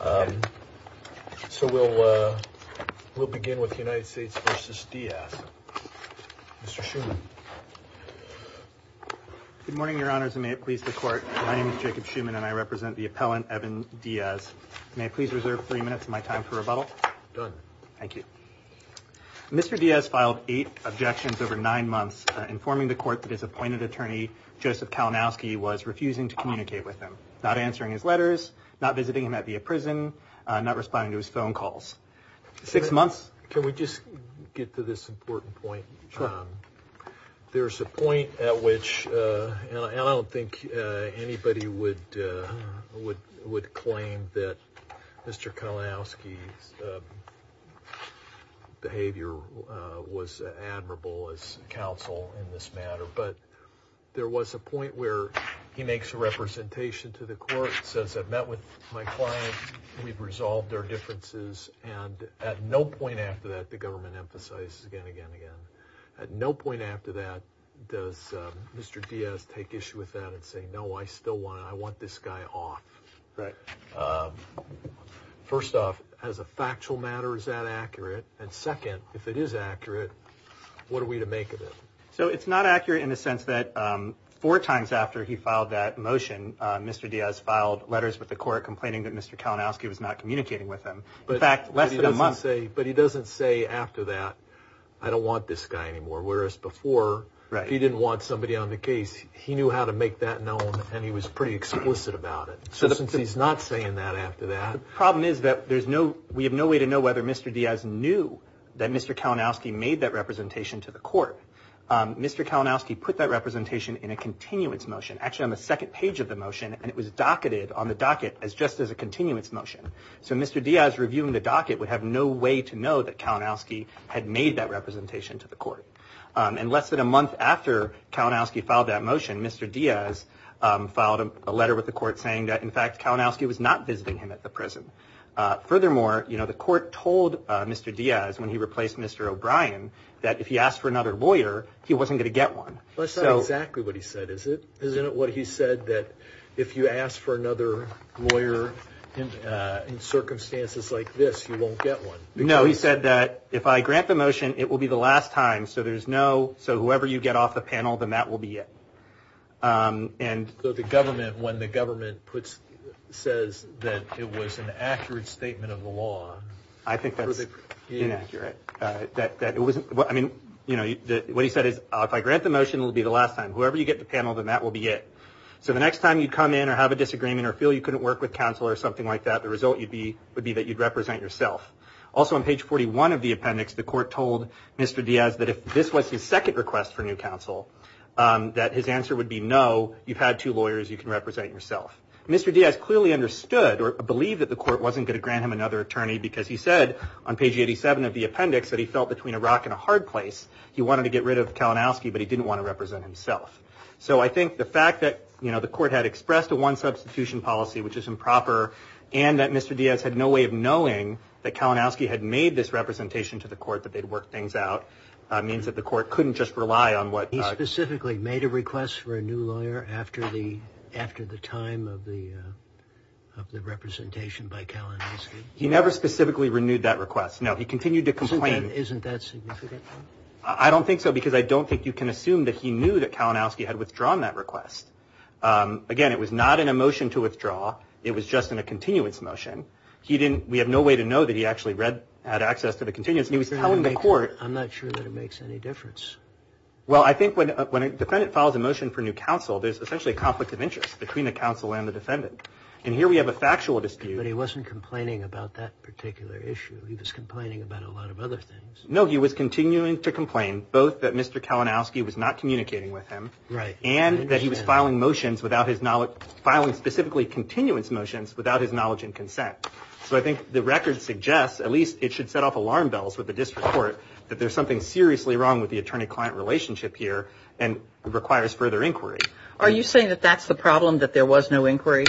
Um, so we'll, uh, we'll begin with the United States versus Diaz. Mr. Schuman. Good morning, your honors, and may it please the court. My name is Jacob Schuman, and I represent the appellant, Evan Diaz. May I please reserve three minutes of my time for rebuttal? Done. Thank you. Mr. Diaz filed eight objections over nine months, informing the court that his appointed attorney, Joseph Kalinowski, was refusing to communicate with him, not answering his letters, not visiting him at the prison, not responding to his phone calls. Six months. Can we just get to this important point? There's a point at which I don't think anybody would would would claim that Mr. Council in this matter, but there was a point where he makes a representation to the court, says I've met with my client. We've resolved our differences. And at no point after that, the government emphasizes again, again, again. At no point after that, does Mr. Diaz take issue with that and say, no, I still want I want this guy off. Right. First off, as a factual matter, is that accurate? And second, if it is accurate, what are we to make of it? So it's not accurate in the sense that four times after he filed that motion, Mr. Diaz filed letters with the court, complaining that Mr. Kalinowski was not communicating with him. But in fact, less than a month. But he doesn't say after that, I don't want this guy anymore. Whereas before, he didn't want somebody on the case. He knew how to make that known. And he was pretty explicit about it. So he's not saying that after that. The problem is that there's no we have no way to know whether Mr. Diaz knew that Mr. Kalinowski made that representation to the court. Mr. Kalinowski put that representation in a continuance motion, actually on the second page of the motion. And it was docketed on the docket as just as a continuance motion. So Mr. Diaz reviewing the docket would have no way to know that Kalinowski had made that representation to the court. And less than a month after Kalinowski filed that motion, Mr. Diaz filed a letter with the court saying that, in fact, Kalinowski was not visiting him at the prison. Furthermore, you know, the court told Mr. Diaz when he replaced Mr. O'Brien that if he asked for another lawyer, he wasn't going to get one. That's exactly what he said, is it? Isn't it what he said that if you ask for another lawyer in circumstances like this, you won't get one? No, he said that if I grant the motion, it will be the last time. So there's no so whoever you get off the panel, then that will be it. And so the government when the government puts says that it was an accurate statement of the law. I think that was inaccurate that it wasn't. I mean, you know, what he said is if I grant the motion will be the last time. Whoever you get the panel, then that will be it. So the next time you come in or have a disagreement or feel you couldn't work with counsel or something like that, the result would be that you'd represent yourself. Also, on page 41 of the appendix, the court told Mr. Diaz that if this was his second request for new counsel, that his answer would be no, you've had two lawyers you can represent yourself. Mr. Diaz clearly understood or believed that the court wasn't going to grant him another attorney because he said on page 87 of the appendix that he felt between a rock and a hard place. He wanted to get rid of Kalinowski, but he didn't want to represent himself. So I think the fact that, you know, the court had expressed a one substitution policy, which is improper, and that Mr. Diaz had no way of knowing that Kalinowski had made this representation to the court, that they'd work things out means that the court couldn't just rely on what he specifically made a request for a new lawyer after the after the time of the of the representation by Kalinowski. He never specifically renewed that request. No, he continued to complain. Isn't that significant? I don't think so, because I don't think you can assume that he knew that Kalinowski had withdrawn that request. Again, it was not in a motion to withdraw. It was just in a continuance motion. He didn't. We have no way to know that he actually read had access to the continuance. He was telling the court. I'm not sure that it makes any difference. Well, I think when a defendant files a motion for new counsel, there's essentially a conflict of interest between the counsel and the defendant. And here we have a factual dispute. But he wasn't complaining about that particular issue. He was complaining about a lot of other things. No, he was continuing to complain both that Mr. Kalinowski was not communicating with him. Right. And that he was filing motions without his knowledge, filing specifically continuance motions without his knowledge and consent. So I think the record suggests at least it should set off alarm bells with the district court that there's something seriously wrong with the attorney client relationship here and requires further inquiry. Are you saying that that's the problem, that there was no inquiry?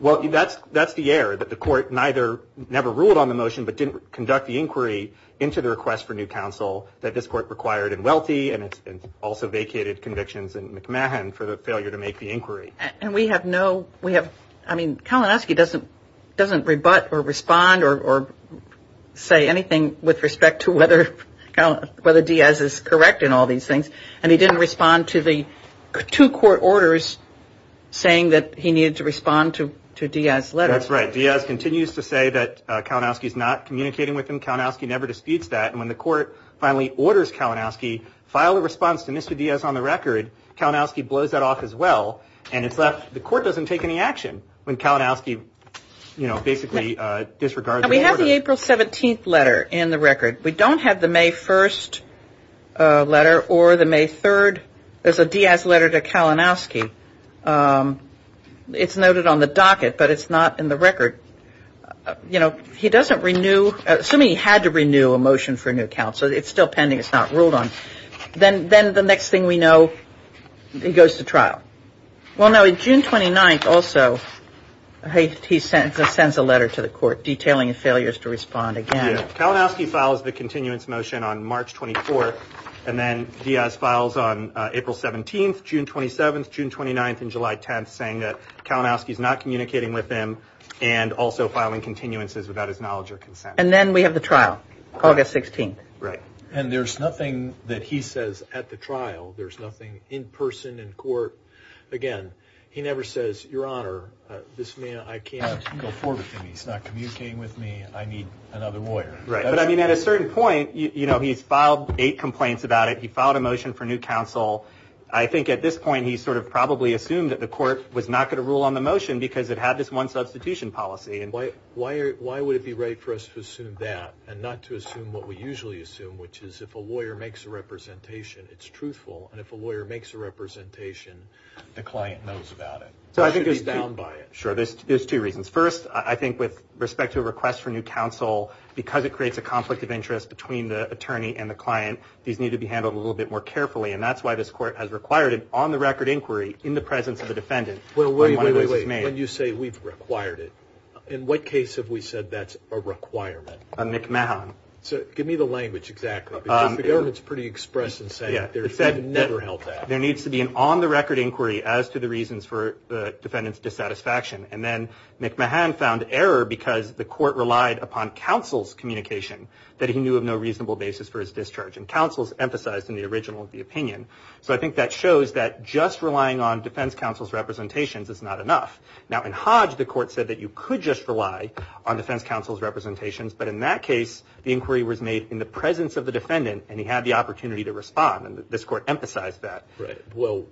Well, that's that's the air that the court neither never ruled on the motion, but didn't conduct the inquiry into the request for new counsel that this court required and wealthy. And it's also vacated convictions in McMahon for the failure to make the inquiry. And we have no we have. I mean, Kalinowski doesn't doesn't rebut or respond or say anything with respect to whether whether Diaz is correct in all these things. And he didn't respond to the two court orders saying that he needed to respond to to Diaz. That's right. Diaz continues to say that Kalinowski is not communicating with him. Kalinowski never disputes that. And when the court finally orders Kalinowski file a response to Mr. Diaz on the record, Kalinowski blows that off as well. And it's left. The court doesn't take any action when Kalinowski, you know, basically disregards. We have the April 17th letter in the record. We don't have the May 1st letter or the May 3rd as a Diaz letter to Kalinowski. It's noted on the docket, but it's not in the record. You know, he doesn't renew. So he had to renew a motion for new counsel. It's still pending. It's not ruled on. Then then the next thing we know, he goes to trial. Well, now, in June 29th, also, he sends a letter to the court detailing failures to respond again. Kalinowski files the continuance motion on March 24th. And then Diaz files on April 17th, June 27th, June 29th and July 10th, saying that Kalinowski is not communicating with him and also filing continuances without his knowledge or consent. And then we have the trial, August 16th. Right. And there's nothing that he says at the trial. There's nothing in person in court. Again, he never says, Your Honor, this man, I can't go forward with him. He's not communicating with me. I need another lawyer. Right. But I mean, at a certain point, you know, he's filed eight complaints about it. He filed a motion for new counsel. I think at this point he sort of probably assumed that the court was not going to rule on the motion because it had this one substitution policy. Why would it be right for us to assume that and not to assume what we usually assume, which is if a lawyer makes a representation, it's truthful. And if a lawyer makes a representation, the client knows about it. So I think it's down by it. Sure. There's two reasons. First, I think with respect to a request for new counsel, because it creates a conflict of interest between the attorney and the client, these need to be handled a little bit more carefully. And that's why this court has required it on the record inquiry in the presence of the defendant. Well, wait, wait, wait. When you say we've required it, in what case have we said that's a requirement? On McMahon. So give me the language, exactly. Because the government's pretty express in saying that they've never held that. There needs to be an on-the-record inquiry as to the reasons for the defendant's dissatisfaction. And then McMahon found error because the court relied upon counsel's communication that he knew of no reasonable basis for his discharge. And counsel's emphasized in the original of the opinion. So I think that shows that just relying on defense counsel's representations is not enough. Now, in Hodge, the court said that you could just rely on defense counsel's representations. But in that case, the inquiry was made in the presence of the defendant, and he had the opportunity to respond. And this court emphasized that. Right. Well,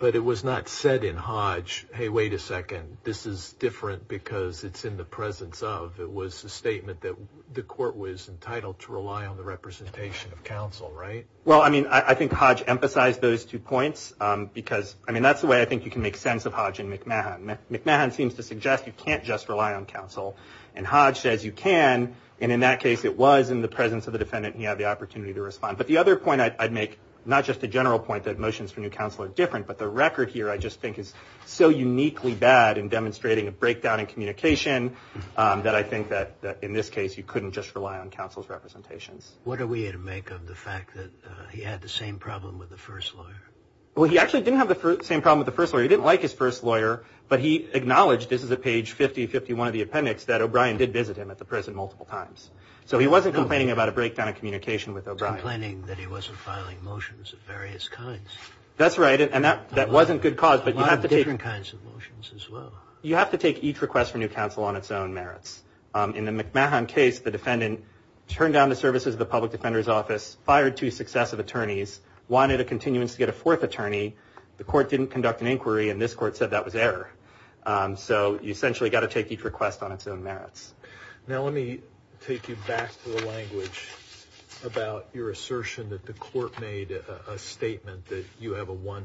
but it was not said in Hodge, hey, wait a second, this is different because it's in the presence of. It was a statement that the court was entitled to rely on the representation of counsel, right? Well, I mean, I think Hodge emphasized those two points because, I mean, that's the way I think you can make sense of Hodge and McMahon. McMahon seems to suggest you can't just rely on counsel. And Hodge says you can. And in that case, it was in the presence of the defendant, and he had the opportunity to respond. But the other point I'd make, not just a general point that motions from your counsel are different, but the record here I just think is so uniquely bad in demonstrating a breakdown in communication What are we to make of the fact that he had the same problem with the first lawyer? Well, he actually didn't have the same problem with the first lawyer. He didn't like his first lawyer, but he acknowledged, this is at page 5051 of the appendix, that O'Brien did visit him at the prison multiple times. So he wasn't complaining about a breakdown in communication with O'Brien. He was complaining that he wasn't filing motions of various kinds. That's right, and that wasn't good cause. A lot of different kinds of motions as well. You have to take each request from your counsel on its own merits. In the McMahon case, the defendant turned down the services of the public defender's office, fired two successive attorneys, wanted a continuance to get a fourth attorney. The court didn't conduct an inquiry, and this court said that was error. So you essentially got to take each request on its own merits. Now let me take you back to the language about your assertion that the court made a statement that you have a one,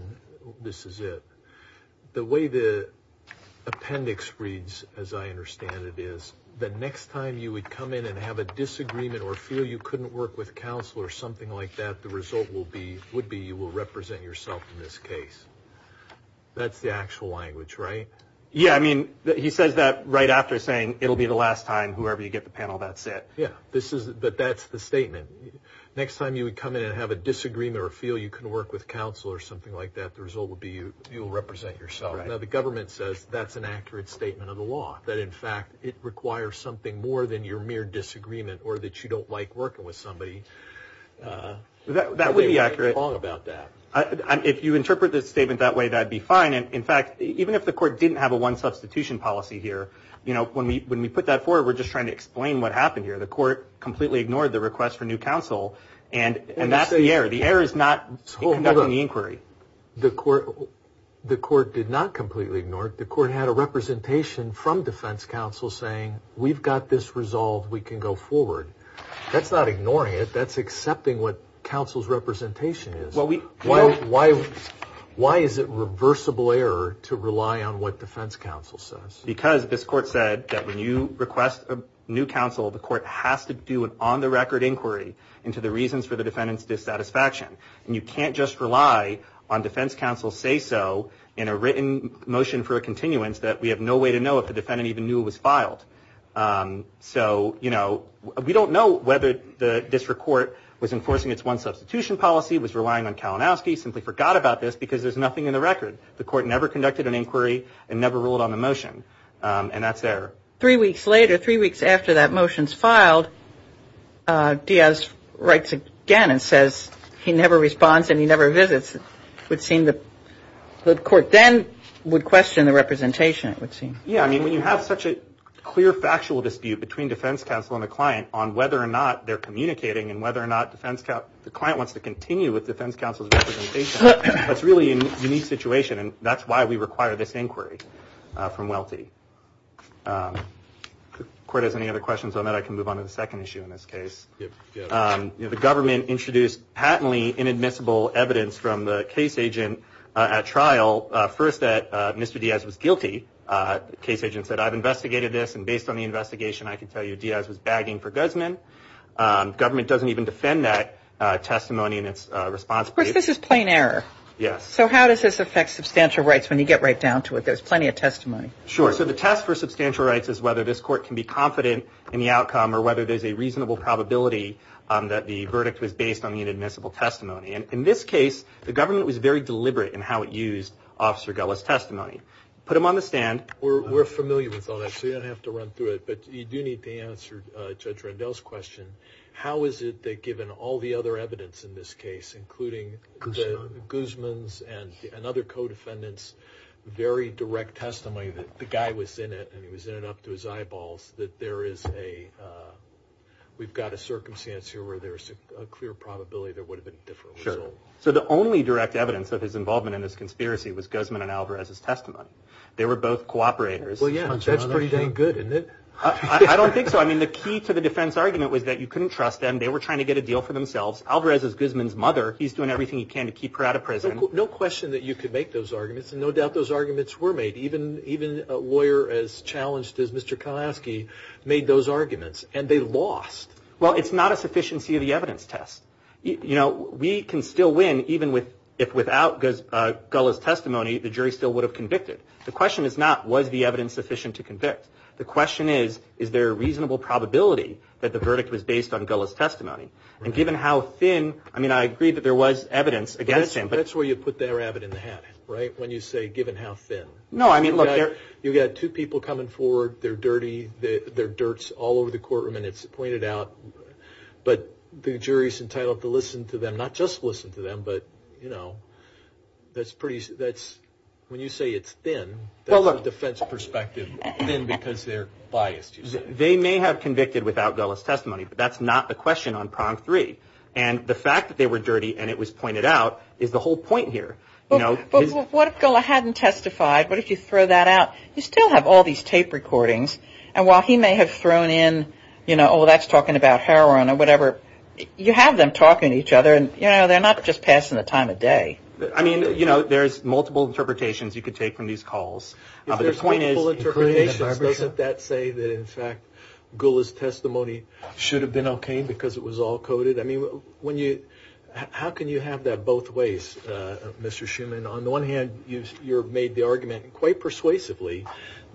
this is it. The way the appendix reads, as I understand it, is that next time you would come in and have a disagreement or feel you couldn't work with counsel or something like that, the result would be you will represent yourself in this case. That's the actual language, right? Yeah, I mean, he says that right after saying it'll be the last time, whoever you get the panel, that's it. Yeah, but that's the statement. Next time you would come in and have a disagreement or feel you couldn't work with counsel or something like that, the result would be you will represent yourself. Now the government says that's an accurate statement of the law, that in fact it requires something more than your mere disagreement or that you don't like working with somebody. That would be accurate. If you interpret the statement that way, that would be fine. In fact, even if the court didn't have a one substitution policy here, when we put that forward, we're just trying to explain what happened here. The court completely ignored the request for new counsel, and that's the error. The error is not conducting the inquiry. The court did not completely ignore it. The court had a representation from defense counsel saying, we've got this resolved, we can go forward. That's not ignoring it. That's accepting what counsel's representation is. Why is it reversible error to rely on what defense counsel says? Because this court said that when you request a new counsel, the court has to do an on-the-record inquiry into the reasons for the defendant's dissatisfaction. And you can't just rely on defense counsel's say-so in a written motion for a continuance that we have no way to know if the defendant even knew it was filed. So, you know, we don't know whether the district court was enforcing its one substitution policy, was relying on Kalinowski, simply forgot about this because there's nothing in the record. The court never conducted an inquiry and never ruled on the motion, and that's error. Three weeks later, three weeks after that motion's filed, Diaz writes again and says he never responds and he never visits. It would seem the court then would question the representation, it would seem. Yeah, I mean, when you have such a clear factual dispute between defense counsel and the client on whether or not they're communicating and whether or not the client wants to continue with defense counsel's representation, that's really a unique situation, and that's why we require this inquiry from Welty. If the court has any other questions on that, I can move on to the second issue in this case. The government introduced patently inadmissible evidence from the case agent at trial, first that Mr. Diaz was guilty. The case agent said, I've investigated this, and based on the investigation, I can tell you Diaz was bagging for guzzman. Government doesn't even defend that testimony in its response. Of course, this is plain error. Yes. So how does this affect substantial rights when you get right down to it? There's plenty of testimony. Sure. So the test for substantial rights is whether this court can be confident in the outcome or whether there's a reasonable probability that the verdict was based on the inadmissible testimony. And in this case, the government was very deliberate in how it used Officer Gullah's testimony. Put him on the stand. We're familiar with all that, so you don't have to run through it, but you do need to answer Judge Rendell's question. How is it that given all the other evidence in this case, including guzzman's and another co-defendant's very direct testimony that the guy was in it and he was in it up to his eyeballs, that there is a, we've got a circumstance here where there's a clear probability there would have been a different result. Sure. So the only direct evidence of his involvement in this conspiracy was guzzman and Alvarez's testimony. They were both cooperators. Well, yeah. That's pretty dang good, isn't it? I don't think so. I mean, the key to the defense argument was that you couldn't trust them. They were trying to get a deal for themselves. Alvarez is guzzman's mother. He's doing everything he can to keep her out of prison. No question that you could make those arguments, and no doubt those arguments were made. Even a lawyer as challenged as Mr. Kalaski made those arguments, and they lost. Well, it's not a sufficiency of the evidence test. You know, we can still win even if without Gullah's testimony, the jury still would have convicted. The question is not was the evidence sufficient to convict. The question is, is there a reasonable probability that the verdict was based on Gullah's testimony? And given how thin, I mean, I agree that there was evidence against him. That's where you put the rabbit in the hat, right? When you say given how thin. No, I mean, look. You've got two people coming forward. They're dirty. They're dirts all over the courtroom, and it's pointed out. But the jury's entitled to listen to them, not just listen to them, but, you know, that's pretty, that's, when you say it's thin, that's a defense perspective, thin because they're biased, you say. They may have convicted without Gullah's testimony, but that's not a question on prong three. And the fact that they were dirty and it was pointed out is the whole point here. But what if Gullah hadn't testified? What if you throw that out? You still have all these tape recordings. And while he may have thrown in, you know, oh, that's talking about heroin or whatever, you have them talking to each other, and, you know, they're not just passing the time of day. I mean, you know, there's multiple interpretations you could take from these calls. If there's multiple interpretations, doesn't that say that, in fact, Gullah's testimony should have been okay because it was all coded? I mean, when you, how can you have that both ways, Mr. Shuman? On the one hand, you've made the argument quite persuasively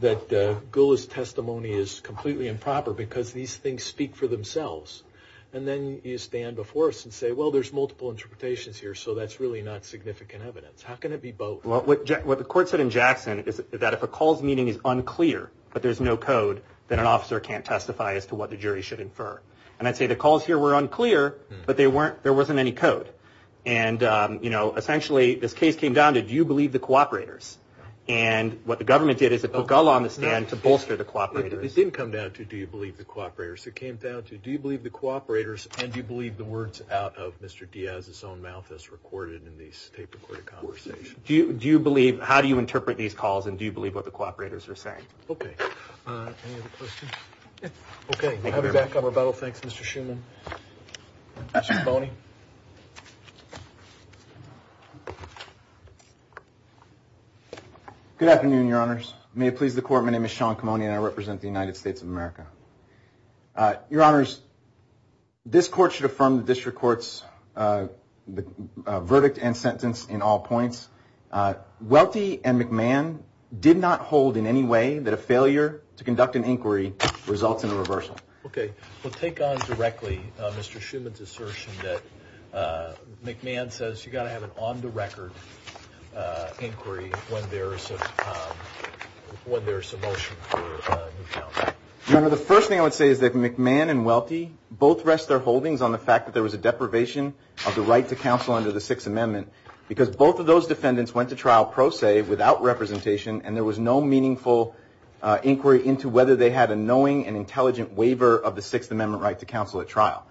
that Gullah's testimony is completely improper because these things speak for themselves. And then you stand before us and say, well, there's multiple interpretations here, so that's really not significant evidence. How can it be both? Well, what the court said in Jackson is that if a call's meaning is unclear but there's no code, then an officer can't testify as to what the jury should infer. And I'd say the calls here were unclear, but there wasn't any code. And, you know, essentially this case came down to do you believe the cooperators? And what the government did is it put Gullah on the stand to bolster the cooperators. It didn't come down to do you believe the cooperators. It came down to do you believe the cooperators and do you believe the words out of Mr. Diaz's own mouth as recorded in these tape-recorded conversations. Do you believe, how do you interpret these calls, and do you believe what the cooperators are saying? Okay. Any other questions? Okay. We'll have you back on rebuttal. Thanks, Mr. Shuman. Mr. Camone. Good afternoon, Your Honors. May it please the Court. My name is Sean Camone and I represent the United States of America. Your Honors, this Court should affirm the District Court's verdict and sentence in all points. Welty and McMahon did not hold in any way that a failure to conduct an inquiry results in a reversal. Okay. We'll take on directly Mr. Shuman's assertion that McMahon says you've got to have an on-the-record inquiry when there is a motion for new counsel. Your Honor, the first thing I would say is that McMahon and Welty both rest their holdings on the fact that there was a deprivation of the right to counsel under the Sixth Amendment because both of those defendants went to trial pro se without representation and there was no meaningful inquiry into whether they had a knowing and intelligent waiver of the Sixth Amendment right to counsel at trial.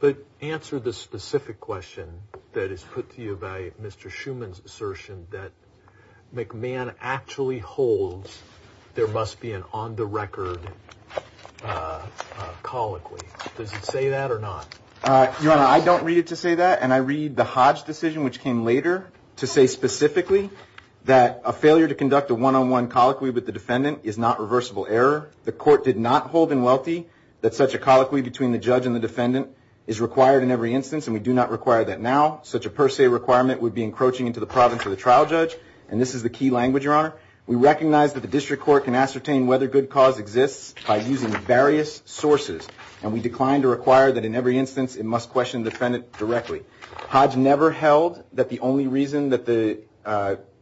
But answer the specific question that is put to you by Mr. Shuman's assertion that McMahon actually holds there must be an on-the-record colloquy. Does it say that or not? Your Honor, I don't read it to say that and I read the Hodge decision, which came later, to say specifically that a failure to conduct a one-on-one colloquy with the defendant is not reversible error. The court did not hold in Welty that such a colloquy between the judge and the defendant is required in every instance and we do not require that now. Such a per se requirement would be encroaching into the province of the trial judge and this is the key language, Your Honor. We recognize that the district court can ascertain whether good cause exists by using various sources and we decline to require that in every instance it must question the defendant directly. Hodge never held that the only reason that the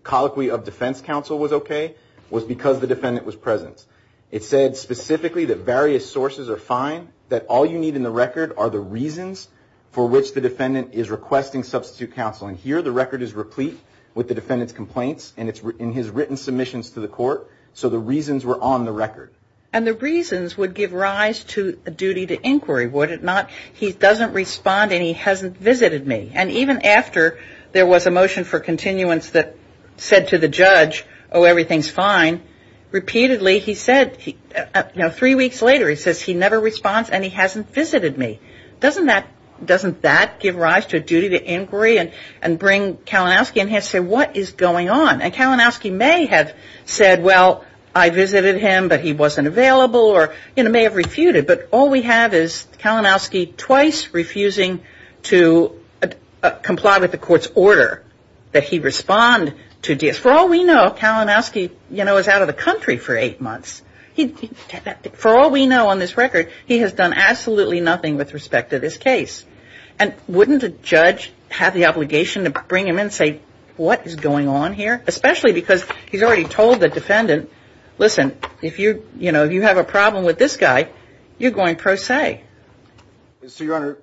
colloquy of defense counsel was okay was because the defendant was present. It said specifically that various sources are fine, that all you need in the record are the reasons for which the defendant is requesting substitute counsel and here the record is replete with the defendant's complaints and it's in his written submissions to the court, so the reasons were on the record. And the reasons would give rise to a duty to inquiry, would it not? He doesn't respond and he hasn't visited me and even after there was a motion for continuance that said to the judge, oh, everything's fine, repeatedly he said, you know, three weeks later, he says he never responds and he hasn't visited me. Doesn't that give rise to a duty to inquiry and bring Kalinowski in here and say what is going on? And Kalinowski may have said, well, I visited him but he wasn't available or may have refuted, but all we have is Kalinowski twice refusing to comply with the court's order that he respond to DS. Which for all we know, Kalinowski, you know, is out of the country for eight months. For all we know on this record, he has done absolutely nothing with respect to this case and wouldn't a judge have the obligation to bring him in and say what is going on here? Especially because he's already told the defendant, listen, if you have a problem with this guy, you're going pro se. So, Your Honor,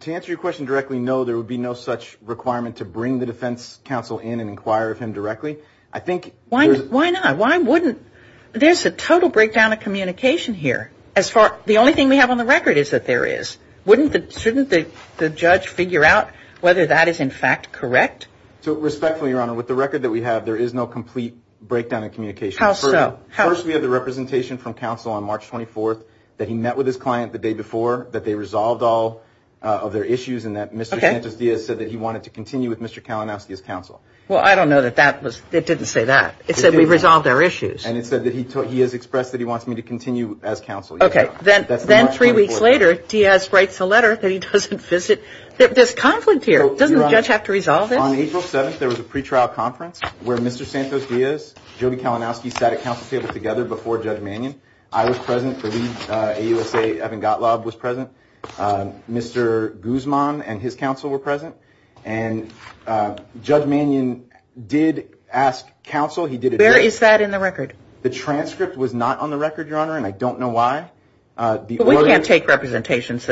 to answer your question directly, no, there would be no such requirement to bring the defense counsel in and inquire of him directly. Why not? Why wouldn't? There's a total breakdown of communication here. The only thing we have on the record is that there is. Shouldn't the judge figure out whether that is in fact correct? Respectfully, Your Honor, with the record that we have, there is no complete breakdown of communication. How so? First, we have the representation from counsel on March 24th that he met with his client the day before, that they resolved all of their issues and that Mr. Santos-Diaz said that he wanted to continue with Mr. Kalinowski as counsel. Well, I don't know that that was, it didn't say that. It said we resolved our issues. And it said that he has expressed that he wants me to continue as counsel. Okay. Then three weeks later, Diaz writes a letter that he doesn't visit. There's conflict here. Doesn't the judge have to resolve it? On April 7th, there was a pretrial conference where Mr. Santos-Diaz, Jody Kalinowski, sat at counsel's table together before Judge Mannion. I was present. The lead AUSA Evan Gottlob was present. Mr. Guzman and his counsel were present. And Judge Mannion did ask counsel. Where is that in the record? The transcript was not on the record, Your Honor, and I don't know why. We can't take representations.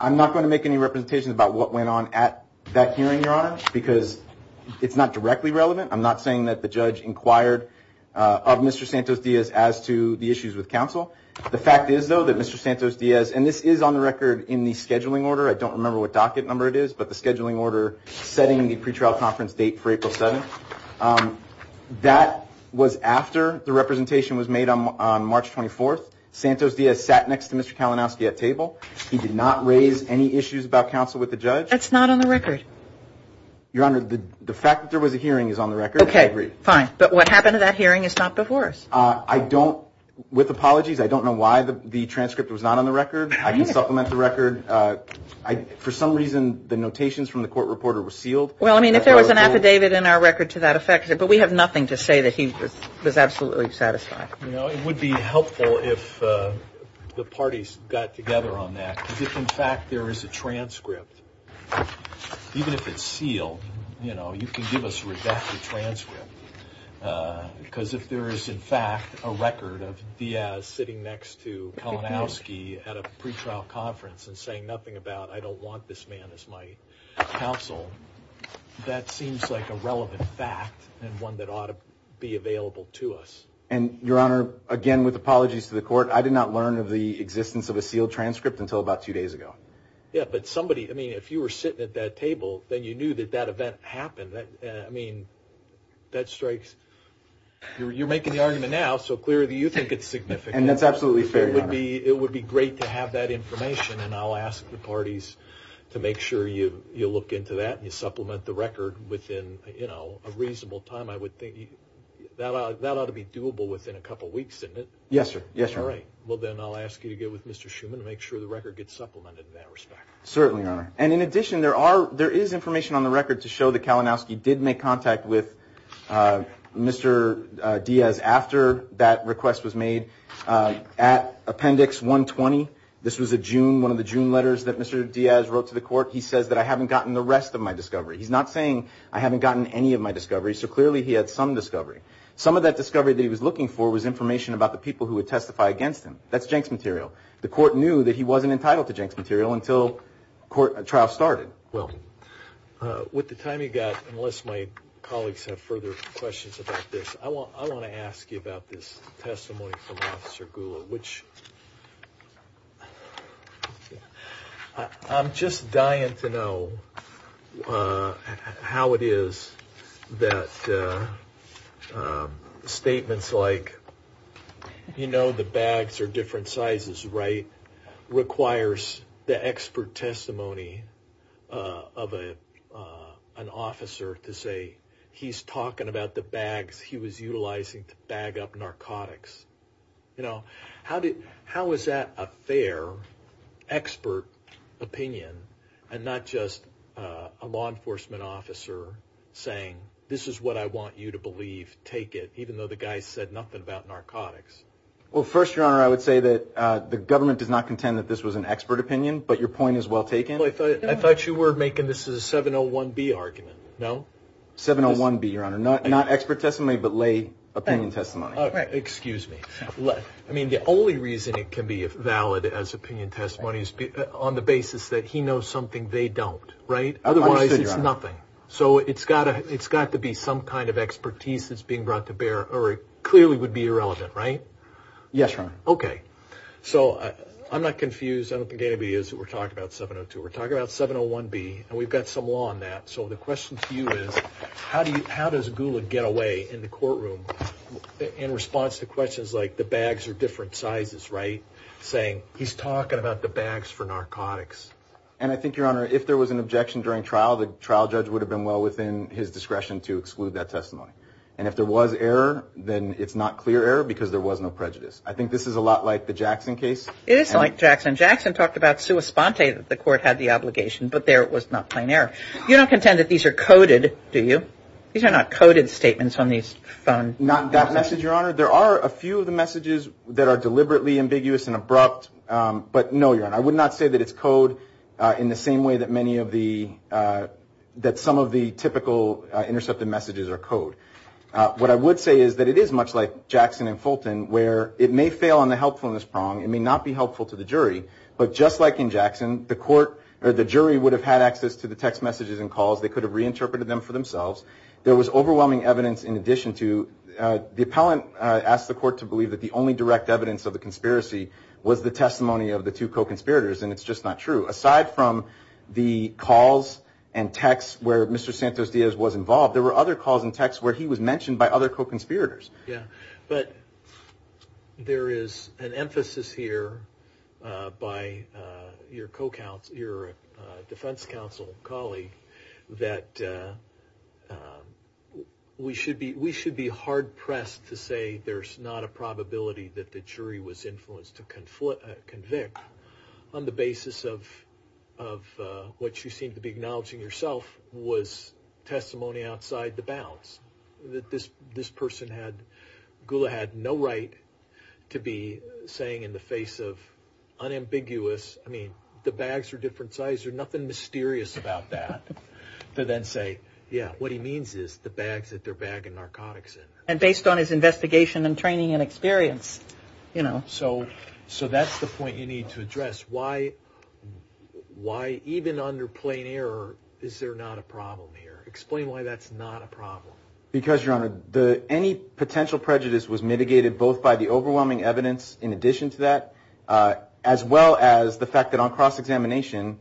I'm not going to make any representations about what went on at that hearing, Your Honor, because it's not directly relevant. I'm not saying that the judge inquired of Mr. Santos-Diaz as to the issues with counsel. The fact is, though, that Mr. Santos-Diaz, and this is on the record in the scheduling order. I don't remember what docket number it is, but the scheduling order setting the pretrial conference date for April 7th. That was after the representation was made on March 24th. Santos-Diaz sat next to Mr. Kalinowski at table. He did not raise any issues about counsel with the judge. That's not on the record. Your Honor, the fact that there was a hearing is on the record. Okay, fine. But what happened at that hearing is not before us. I don't, with apologies, I don't know why the transcript was not on the record. I can supplement the record. For some reason, the notations from the court reporter were sealed. Well, I mean, if there was an affidavit in our record to that effect, but we have nothing to say that he was absolutely satisfied. You know, it would be helpful if the parties got together on that. If, in fact, there is a transcript, even if it's sealed, you know, you can give us a rejected transcript. Because if there is, in fact, a record of Diaz sitting next to Kalinowski at a pretrial conference and saying nothing about, I don't want this man as my counsel, that seems like a relevant fact and one that ought to be available to us. And, Your Honor, again, with apologies to the court, I did not learn of the existence of a sealed transcript until about two days ago. Yeah, but somebody, I mean, if you were sitting at that table, then you knew that that event happened. I mean, that strikes, you're making the argument now, so clearly you think it's significant. And that's absolutely fair, Your Honor. It would be great to have that information, and I'll ask the parties to make sure you look into that and you supplement the record within, you know, a reasonable time. I would think that ought to be doable within a couple weeks, isn't it? Yes, sir. Yes, sir. All right. Well, then I'll ask you to get with Mr. Schuman and make sure the record gets supplemented in that respect. Certainly, Your Honor. And in addition, there is information on the record to show that Kalinowski did make contact with Mr. Diaz after that request was made. At Appendix 120, this was a June, one of the June letters that Mr. Diaz wrote to the court, he says that I haven't gotten the rest of my discovery. He's not saying I haven't gotten any of my discovery, so clearly he had some discovery. Some of that discovery that he was looking for was information about the people who would testify against him. That's Jenks material. The court knew that he wasn't entitled to Jenks material until trial started. Well, with the time you've got, unless my colleagues have further questions about this, I want to ask you about this testimony from Officer Gula, which – I'm just dying to know how it is that statements like, you know, the bags are different sizes, right, requires the expert testimony of an officer to say he's talking about the bags he was utilizing to bag up narcotics. You know, how is that a fair expert opinion and not just a law enforcement officer saying, this is what I want you to believe, take it, even though the guy said nothing about narcotics? Well, first, Your Honor, I would say that the government does not contend that this was an expert opinion, but your point is well taken. I thought you were making this as a 701B argument, no? 701B, Your Honor, not expert testimony, but lay opinion testimony. Excuse me. I mean, the only reason it can be valid as opinion testimony is on the basis that he knows something they don't, right? Otherwise, it's nothing. So it's got to be some kind of expertise that's being brought to bear, or it clearly would be irrelevant, right? Yes, Your Honor. Okay. So I'm not confused. I don't think anybody is who we're talking about 702. We're talking about 701B, and we've got some law on that. So the question to you is, how does Gula get away in the courtroom in response to questions like the bags are different sizes, right, saying he's talking about the bags for narcotics? And I think, Your Honor, if there was an objection during trial, the trial judge would have been well within his discretion to exclude that testimony. And if there was error, then it's not clear error because there was no prejudice. I think this is a lot like the Jackson case. It is a lot like Jackson. Jackson talked about sua sponte, that the court had the obligation, but there it was not plain error. You don't contend that these are coded, do you? These are not coded statements on these phones. Not that message, Your Honor. There are a few of the messages that are deliberately ambiguous and abrupt. But, no, Your Honor, I would not say that it's code in the same way that many of the – that some of the typical intercepted messages are code. What I would say is that it is much like Jackson and Fulton, where it may fail on the helpfulness prong. It may not be helpful to the jury. But just like in Jackson, the jury would have had access to the text messages and calls. They could have reinterpreted them for themselves. There was overwhelming evidence in addition to – the appellant asked the court to believe that the only direct evidence of the conspiracy was the testimony of the two co-conspirators, and it's just not true. Aside from the calls and texts where Mr. Santos-Diaz was involved, there were other calls and texts where he was mentioned by other co-conspirators. But there is an emphasis here by your defense counsel colleague that we should be hard-pressed to say there's not a probability that the jury was influenced to convict on the basis of what you seem to be acknowledging yourself was testimony outside the bounds. That this person, Gula, had no right to be saying in the face of unambiguous – I mean, the bags are different sizes, there's nothing mysterious about that – to then say, yeah, what he means is the bags that they're bagging narcotics in. And based on his investigation and training and experience. So that's the point you need to address. Why, even under plain error, is there not a problem here? Explain why that's not a problem. Because, Your Honor, any potential prejudice was mitigated both by the overwhelming evidence in addition to that, as well as the fact that on cross-examination,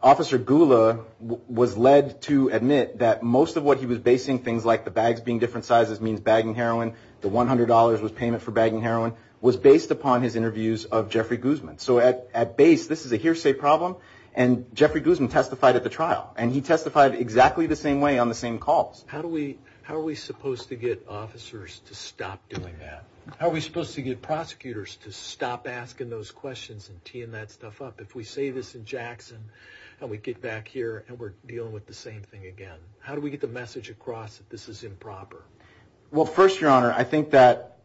Officer Gula was led to admit that most of what he was basing things like the bags being different sizes means bagging heroin, the $100 was payment for bagging heroin, was based upon his interviews of Jeffrey Guzman. So at base, this is a hearsay problem, and Jeffrey Guzman testified at the trial. And he testified exactly the same way on the same calls. How are we supposed to get officers to stop doing that? How are we supposed to get prosecutors to stop asking those questions and teeing that stuff up? If we say this in Jackson and we get back here and we're dealing with the same thing again, how do we get the message across that this is improper? Well, first, Your Honor, I think that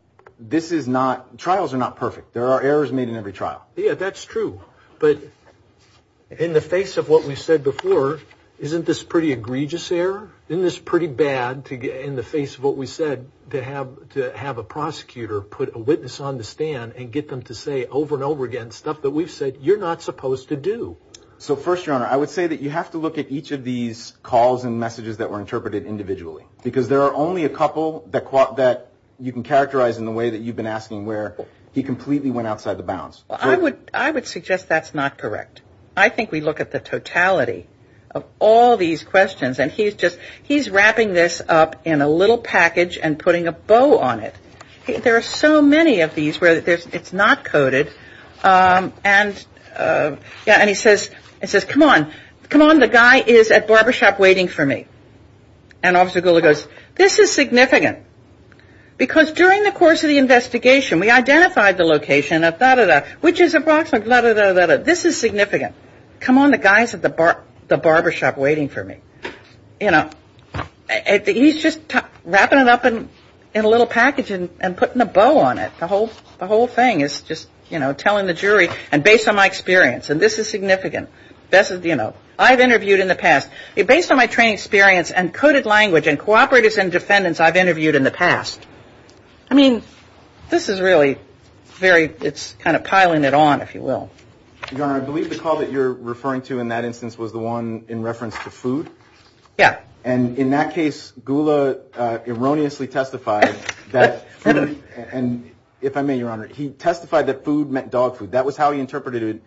trials are not perfect. There are errors made in every trial. Yeah, that's true. But in the face of what we've said before, isn't this pretty egregious error? Isn't this pretty bad in the face of what we said to have a prosecutor put a witness on the stand and get them to say over and over again stuff that we've said you're not supposed to do? So, first, Your Honor, I would say that you have to look at each of these calls and messages that were interpreted individually. Because there are only a couple that you can characterize in the way that you've been asking where he completely went outside the bounds. I would suggest that's not correct. I think we look at the totality of all these questions. And he's just wrapping this up in a little package and putting a bow on it. There are so many of these where it's not coded. And he says, come on, come on, the guy is at barbershop waiting for me. And Officer Goula goes, this is significant. Because during the course of the investigation, we identified the location of da-da-da, which is approximately da-da-da-da-da. This is significant. Come on, the guy is at the barbershop waiting for me. You know, he's just wrapping it up in a little package and putting a bow on it. The whole thing is just, you know, telling the jury and based on my experience. And this is significant. You know, I've interviewed in the past. Based on my training experience and coded language and cooperatives and defendants, I've interviewed in the past. I mean, this is really very, it's kind of piling it on, if you will. Your Honor, I believe the call that you're referring to in that instance was the one in reference to food. Yeah. And in that case, Goula erroneously testified that food, and if I may, Your Honor, he testified that food meant dog food. That was how he interpreted it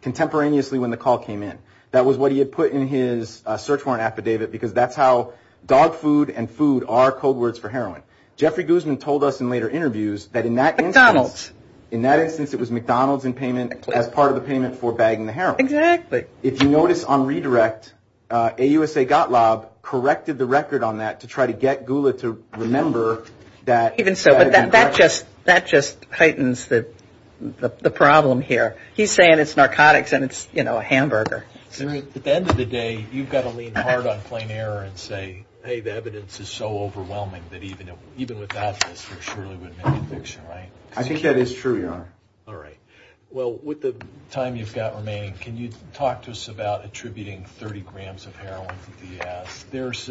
contemporaneously when the call came in. That was what he had put in his search warrant affidavit because that's how dog food and food are code words for heroin. Jeffrey Guzman told us in later interviews that in that instance. McDonald's. In that instance, it was McDonald's in payment as part of the payment for bagging the heroin. Exactly. If you notice on redirect, AUSA Gottlob corrected the record on that to try to get Goula to remember that. Even so, but that just heightens the problem here. He's saying it's narcotics and it's, you know, a hamburger. At the end of the day, you've got to lean hard on plain error and say, hey, the evidence is so overwhelming that even without this, there surely wouldn't have been an addiction, right? I think that is true, Your Honor. All right. Well, with the time you've got remaining, can you talk to us about attributing 30 grams of heroin to DS? There's,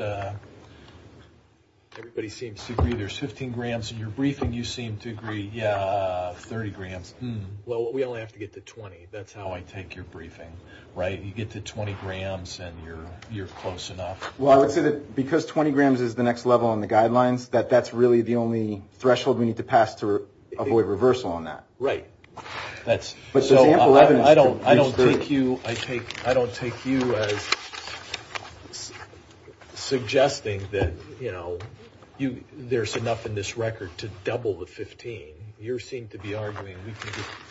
everybody seems to agree there's 15 grams in your briefing. You seem to agree, yeah, 30 grams. Well, we only have to get to 20. That's how I take your briefing, right? You get to 20 grams and you're close enough. Well, I would say that because 20 grams is the next level on the guidelines, that that's really the only threshold we need to pass to avoid reversal on that. Right. So I don't take you as suggesting that, you know, there's enough in this record to double the 15. You seem to be arguing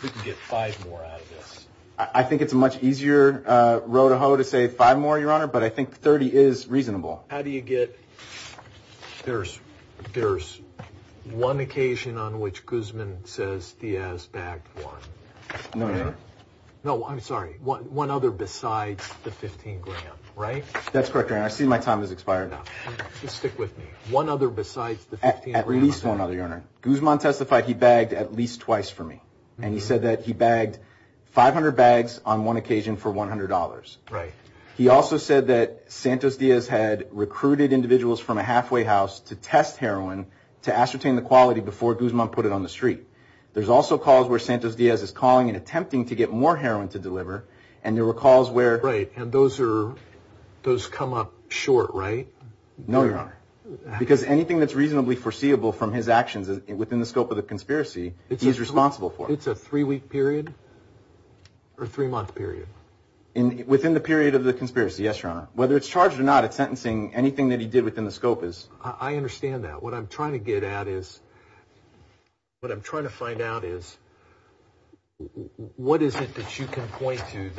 we can get five more out of this. I think it's a much easier row to hoe to say five more, Your Honor, but I think 30 is reasonable. How do you get, there's one occasion on which Guzman says DS bagged one. No, Your Honor. No, I'm sorry, one other besides the 15 gram, right? That's correct, Your Honor. I see my time has expired. Just stick with me. One other besides the 15 gram. At least one other, Your Honor. Guzman testified he bagged at least twice for me. And he said that he bagged 500 bags on one occasion for $100. Right. He also said that Santos Diaz had recruited individuals from a halfway house to test heroin to ascertain the quality before Guzman put it on the street. There's also calls where Santos Diaz is calling and attempting to get more heroin to deliver, and there were calls where. Right, and those come up short, right? No, Your Honor. Because anything that's reasonably foreseeable from his actions within the scope of the conspiracy, he's responsible for. It's a three-week period or three-month period. Within the period of the conspiracy, yes, Your Honor. Whether it's charged or not, it's sentencing. Anything that he did within the scope is. I understand that. What I'm trying to get at is, what I'm trying to find out is, what is it that you can point to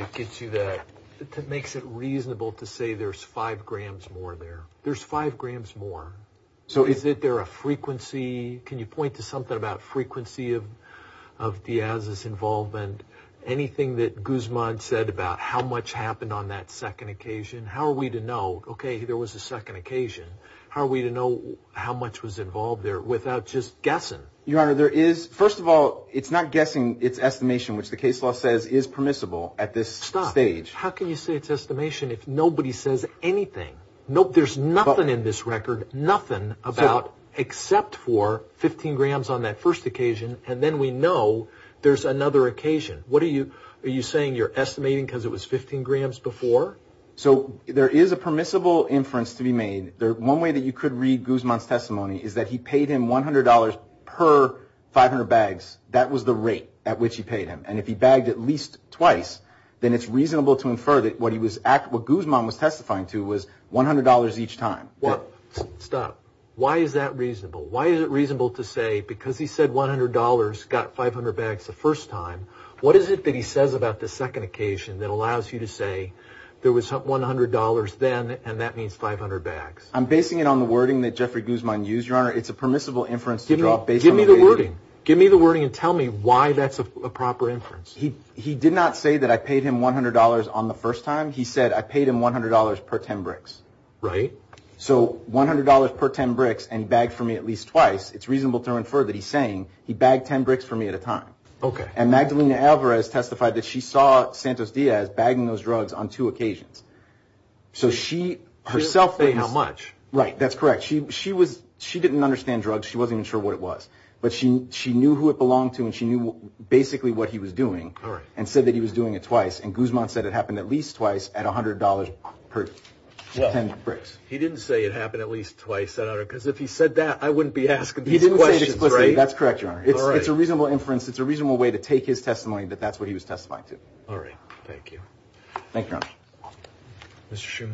that makes it reasonable to say there's five grams more there? There's five grams more. So is it there a frequency? Can you point to something about frequency of Diaz's involvement? Anything that Guzman said about how much happened on that second occasion? How are we to know, okay, there was a second occasion? How are we to know how much was involved there without just guessing? Your Honor, there is. First of all, it's not guessing. It's estimation, which the case law says is permissible at this stage. Stop. How can you say it's estimation if nobody says anything? There's nothing in this record, nothing, except for 15 grams on that first occasion, and then we know there's another occasion. Are you saying you're estimating because it was 15 grams before? So there is a permissible inference to be made. One way that you could read Guzman's testimony is that he paid him $100 per 500 bags. That was the rate at which he paid him. And if he bagged at least twice, then it's reasonable to infer that what Guzman was testifying to was $100 each time. Stop. Why is that reasonable? Why is it reasonable to say because he said $100, got 500 bags the first time, what is it that he says about the second occasion that allows you to say there was $100 then, and that means 500 bags? I'm basing it on the wording that Jeffrey Guzman used, Your Honor. It's a permissible inference to draw based on the wording. Give me the wording. Give me the wording and tell me why that's a proper inference. He did not say that I paid him $100 on the first time. He said I paid him $100 per 10 bricks. Right. So $100 per 10 bricks and he bagged for me at least twice, it's reasonable to infer that he's saying he bagged 10 bricks for me at a time. Okay. And Magdalena Alvarez testified that she saw Santos Diaz bagging those drugs on two occasions. So she herself was... How much? Right, that's correct. She didn't understand drugs. She wasn't even sure what it was. But she knew who it belonged to and she knew basically what he was doing and said that he was doing it twice, and Guzman said it happened at least twice at $100 per 10 bricks. He didn't say it happened at least twice, Your Honor, because if he said that I wouldn't be asking these questions, right? He didn't say it explicitly. That's correct, Your Honor. It's a reasonable inference. It's a reasonable way to take his testimony that that's what he was testifying to. All right. Thank you. Thank you, Your Honor. Mr.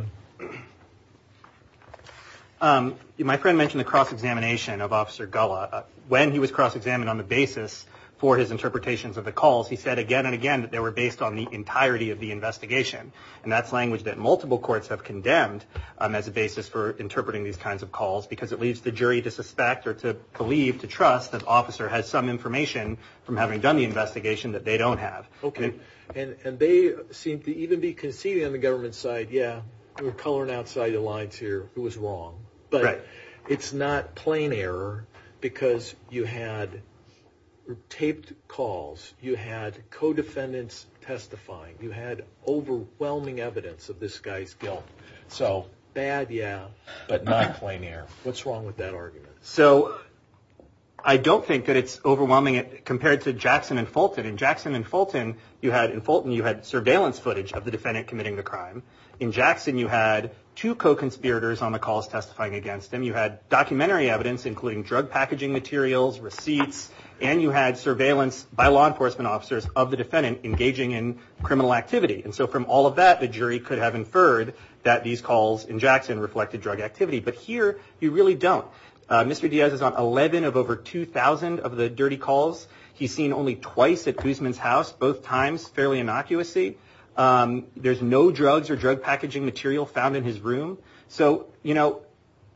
Schuman. My friend mentioned the cross-examination of Officer Gullah. When he was cross-examined on the basis for his interpretations of the calls, he said again and again that they were based on the entirety of the investigation, and that's language that multiple courts have condemned as a basis for interpreting these kinds of calls because it leaves the jury to suspect or to believe, to trust, that the officer has some information from having done the investigation that they don't have. Okay. And they seem to even be conceding on the government side, yeah. We're coloring outside the lines here. It was wrong. Right. But it's not plain error because you had taped calls. You had co-defendants testifying. You had overwhelming evidence of this guy's guilt. So bad, yeah, but not plain error. What's wrong with that argument? So I don't think that it's overwhelming compared to Jackson and Fulton. In Jackson and Fulton, you had surveillance footage of the defendant committing the crime. In Jackson, you had two co-conspirators on the calls testifying against him. You had documentary evidence, including drug packaging materials, receipts, and you had surveillance by law enforcement officers of the defendant engaging in criminal activity. And so from all of that, the jury could have inferred that these calls in Jackson reflected drug activity. But here, you really don't. Mr. Diaz is on 11 of over 2,000 of the dirty calls. He's seen only twice at Guzman's house, both times fairly innocuously. There's no drugs or drug packaging material found in his room. So, you know,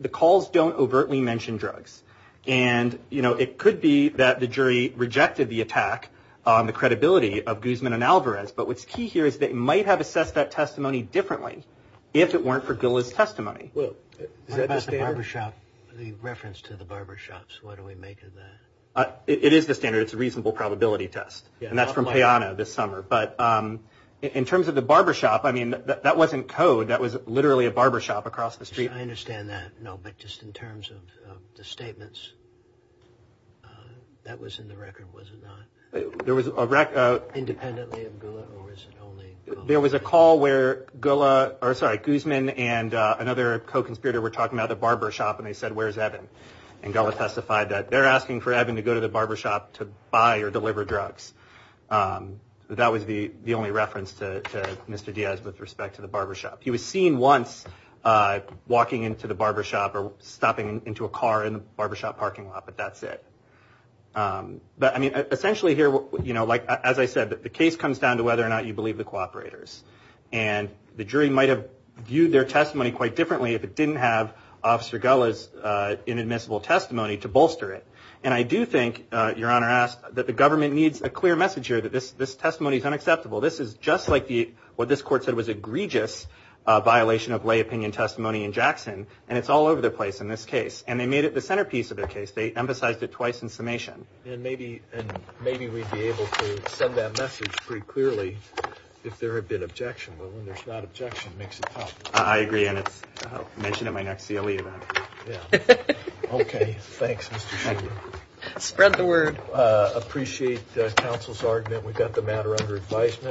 the calls don't overtly mention drugs. And, you know, it could be that the jury rejected the attack on the credibility of Guzman and Alvarez. But what's key here is they might have assessed that testimony differently if it weren't for Gula's testimony. Is that the standard? The reference to the barbershops, what do we make of that? It is the standard. It's a reasonable probability test. And that's from Payano this summer. But in terms of the barbershop, I mean, that wasn't code. That was literally a barbershop across the street. I understand that. No, but just in terms of the statements that was in the record, was it not? There was a record. Independently of Gula or was it only Gula? There was a call where Gula or, sorry, Guzman and another co-conspirator were talking about the barbershop, and they said, where's Evan? And Gula testified that they're asking for Evan to go to the barbershop to buy or deliver drugs. That was the only reference to Mr. Diaz with respect to the barbershop. He was seen once walking into the barbershop or stopping into a car in the barbershop parking lot, but that's it. But, I mean, essentially here, you know, like, as I said, the case comes down to whether or not you believe the co-operators. And the jury might have viewed their testimony quite differently if it didn't have Officer Gula's inadmissible testimony to bolster it. And I do think, Your Honor, that the government needs a clear message here that this testimony is unacceptable. This is just like what this court said was egregious violation of lay opinion testimony in Jackson, and it's all over the place in this case. And they made it the centerpiece of their case. They emphasized it twice in summation. And maybe we'd be able to send that message pretty clearly if there had been objection. But when there's not objection, it makes it tough. I agree, and I'll mention it in my next CLE event. Yeah. Okay. Thanks, Mr. Shulman. Spread the word. Appreciate the counsel's argument. We've got the matter under advisement.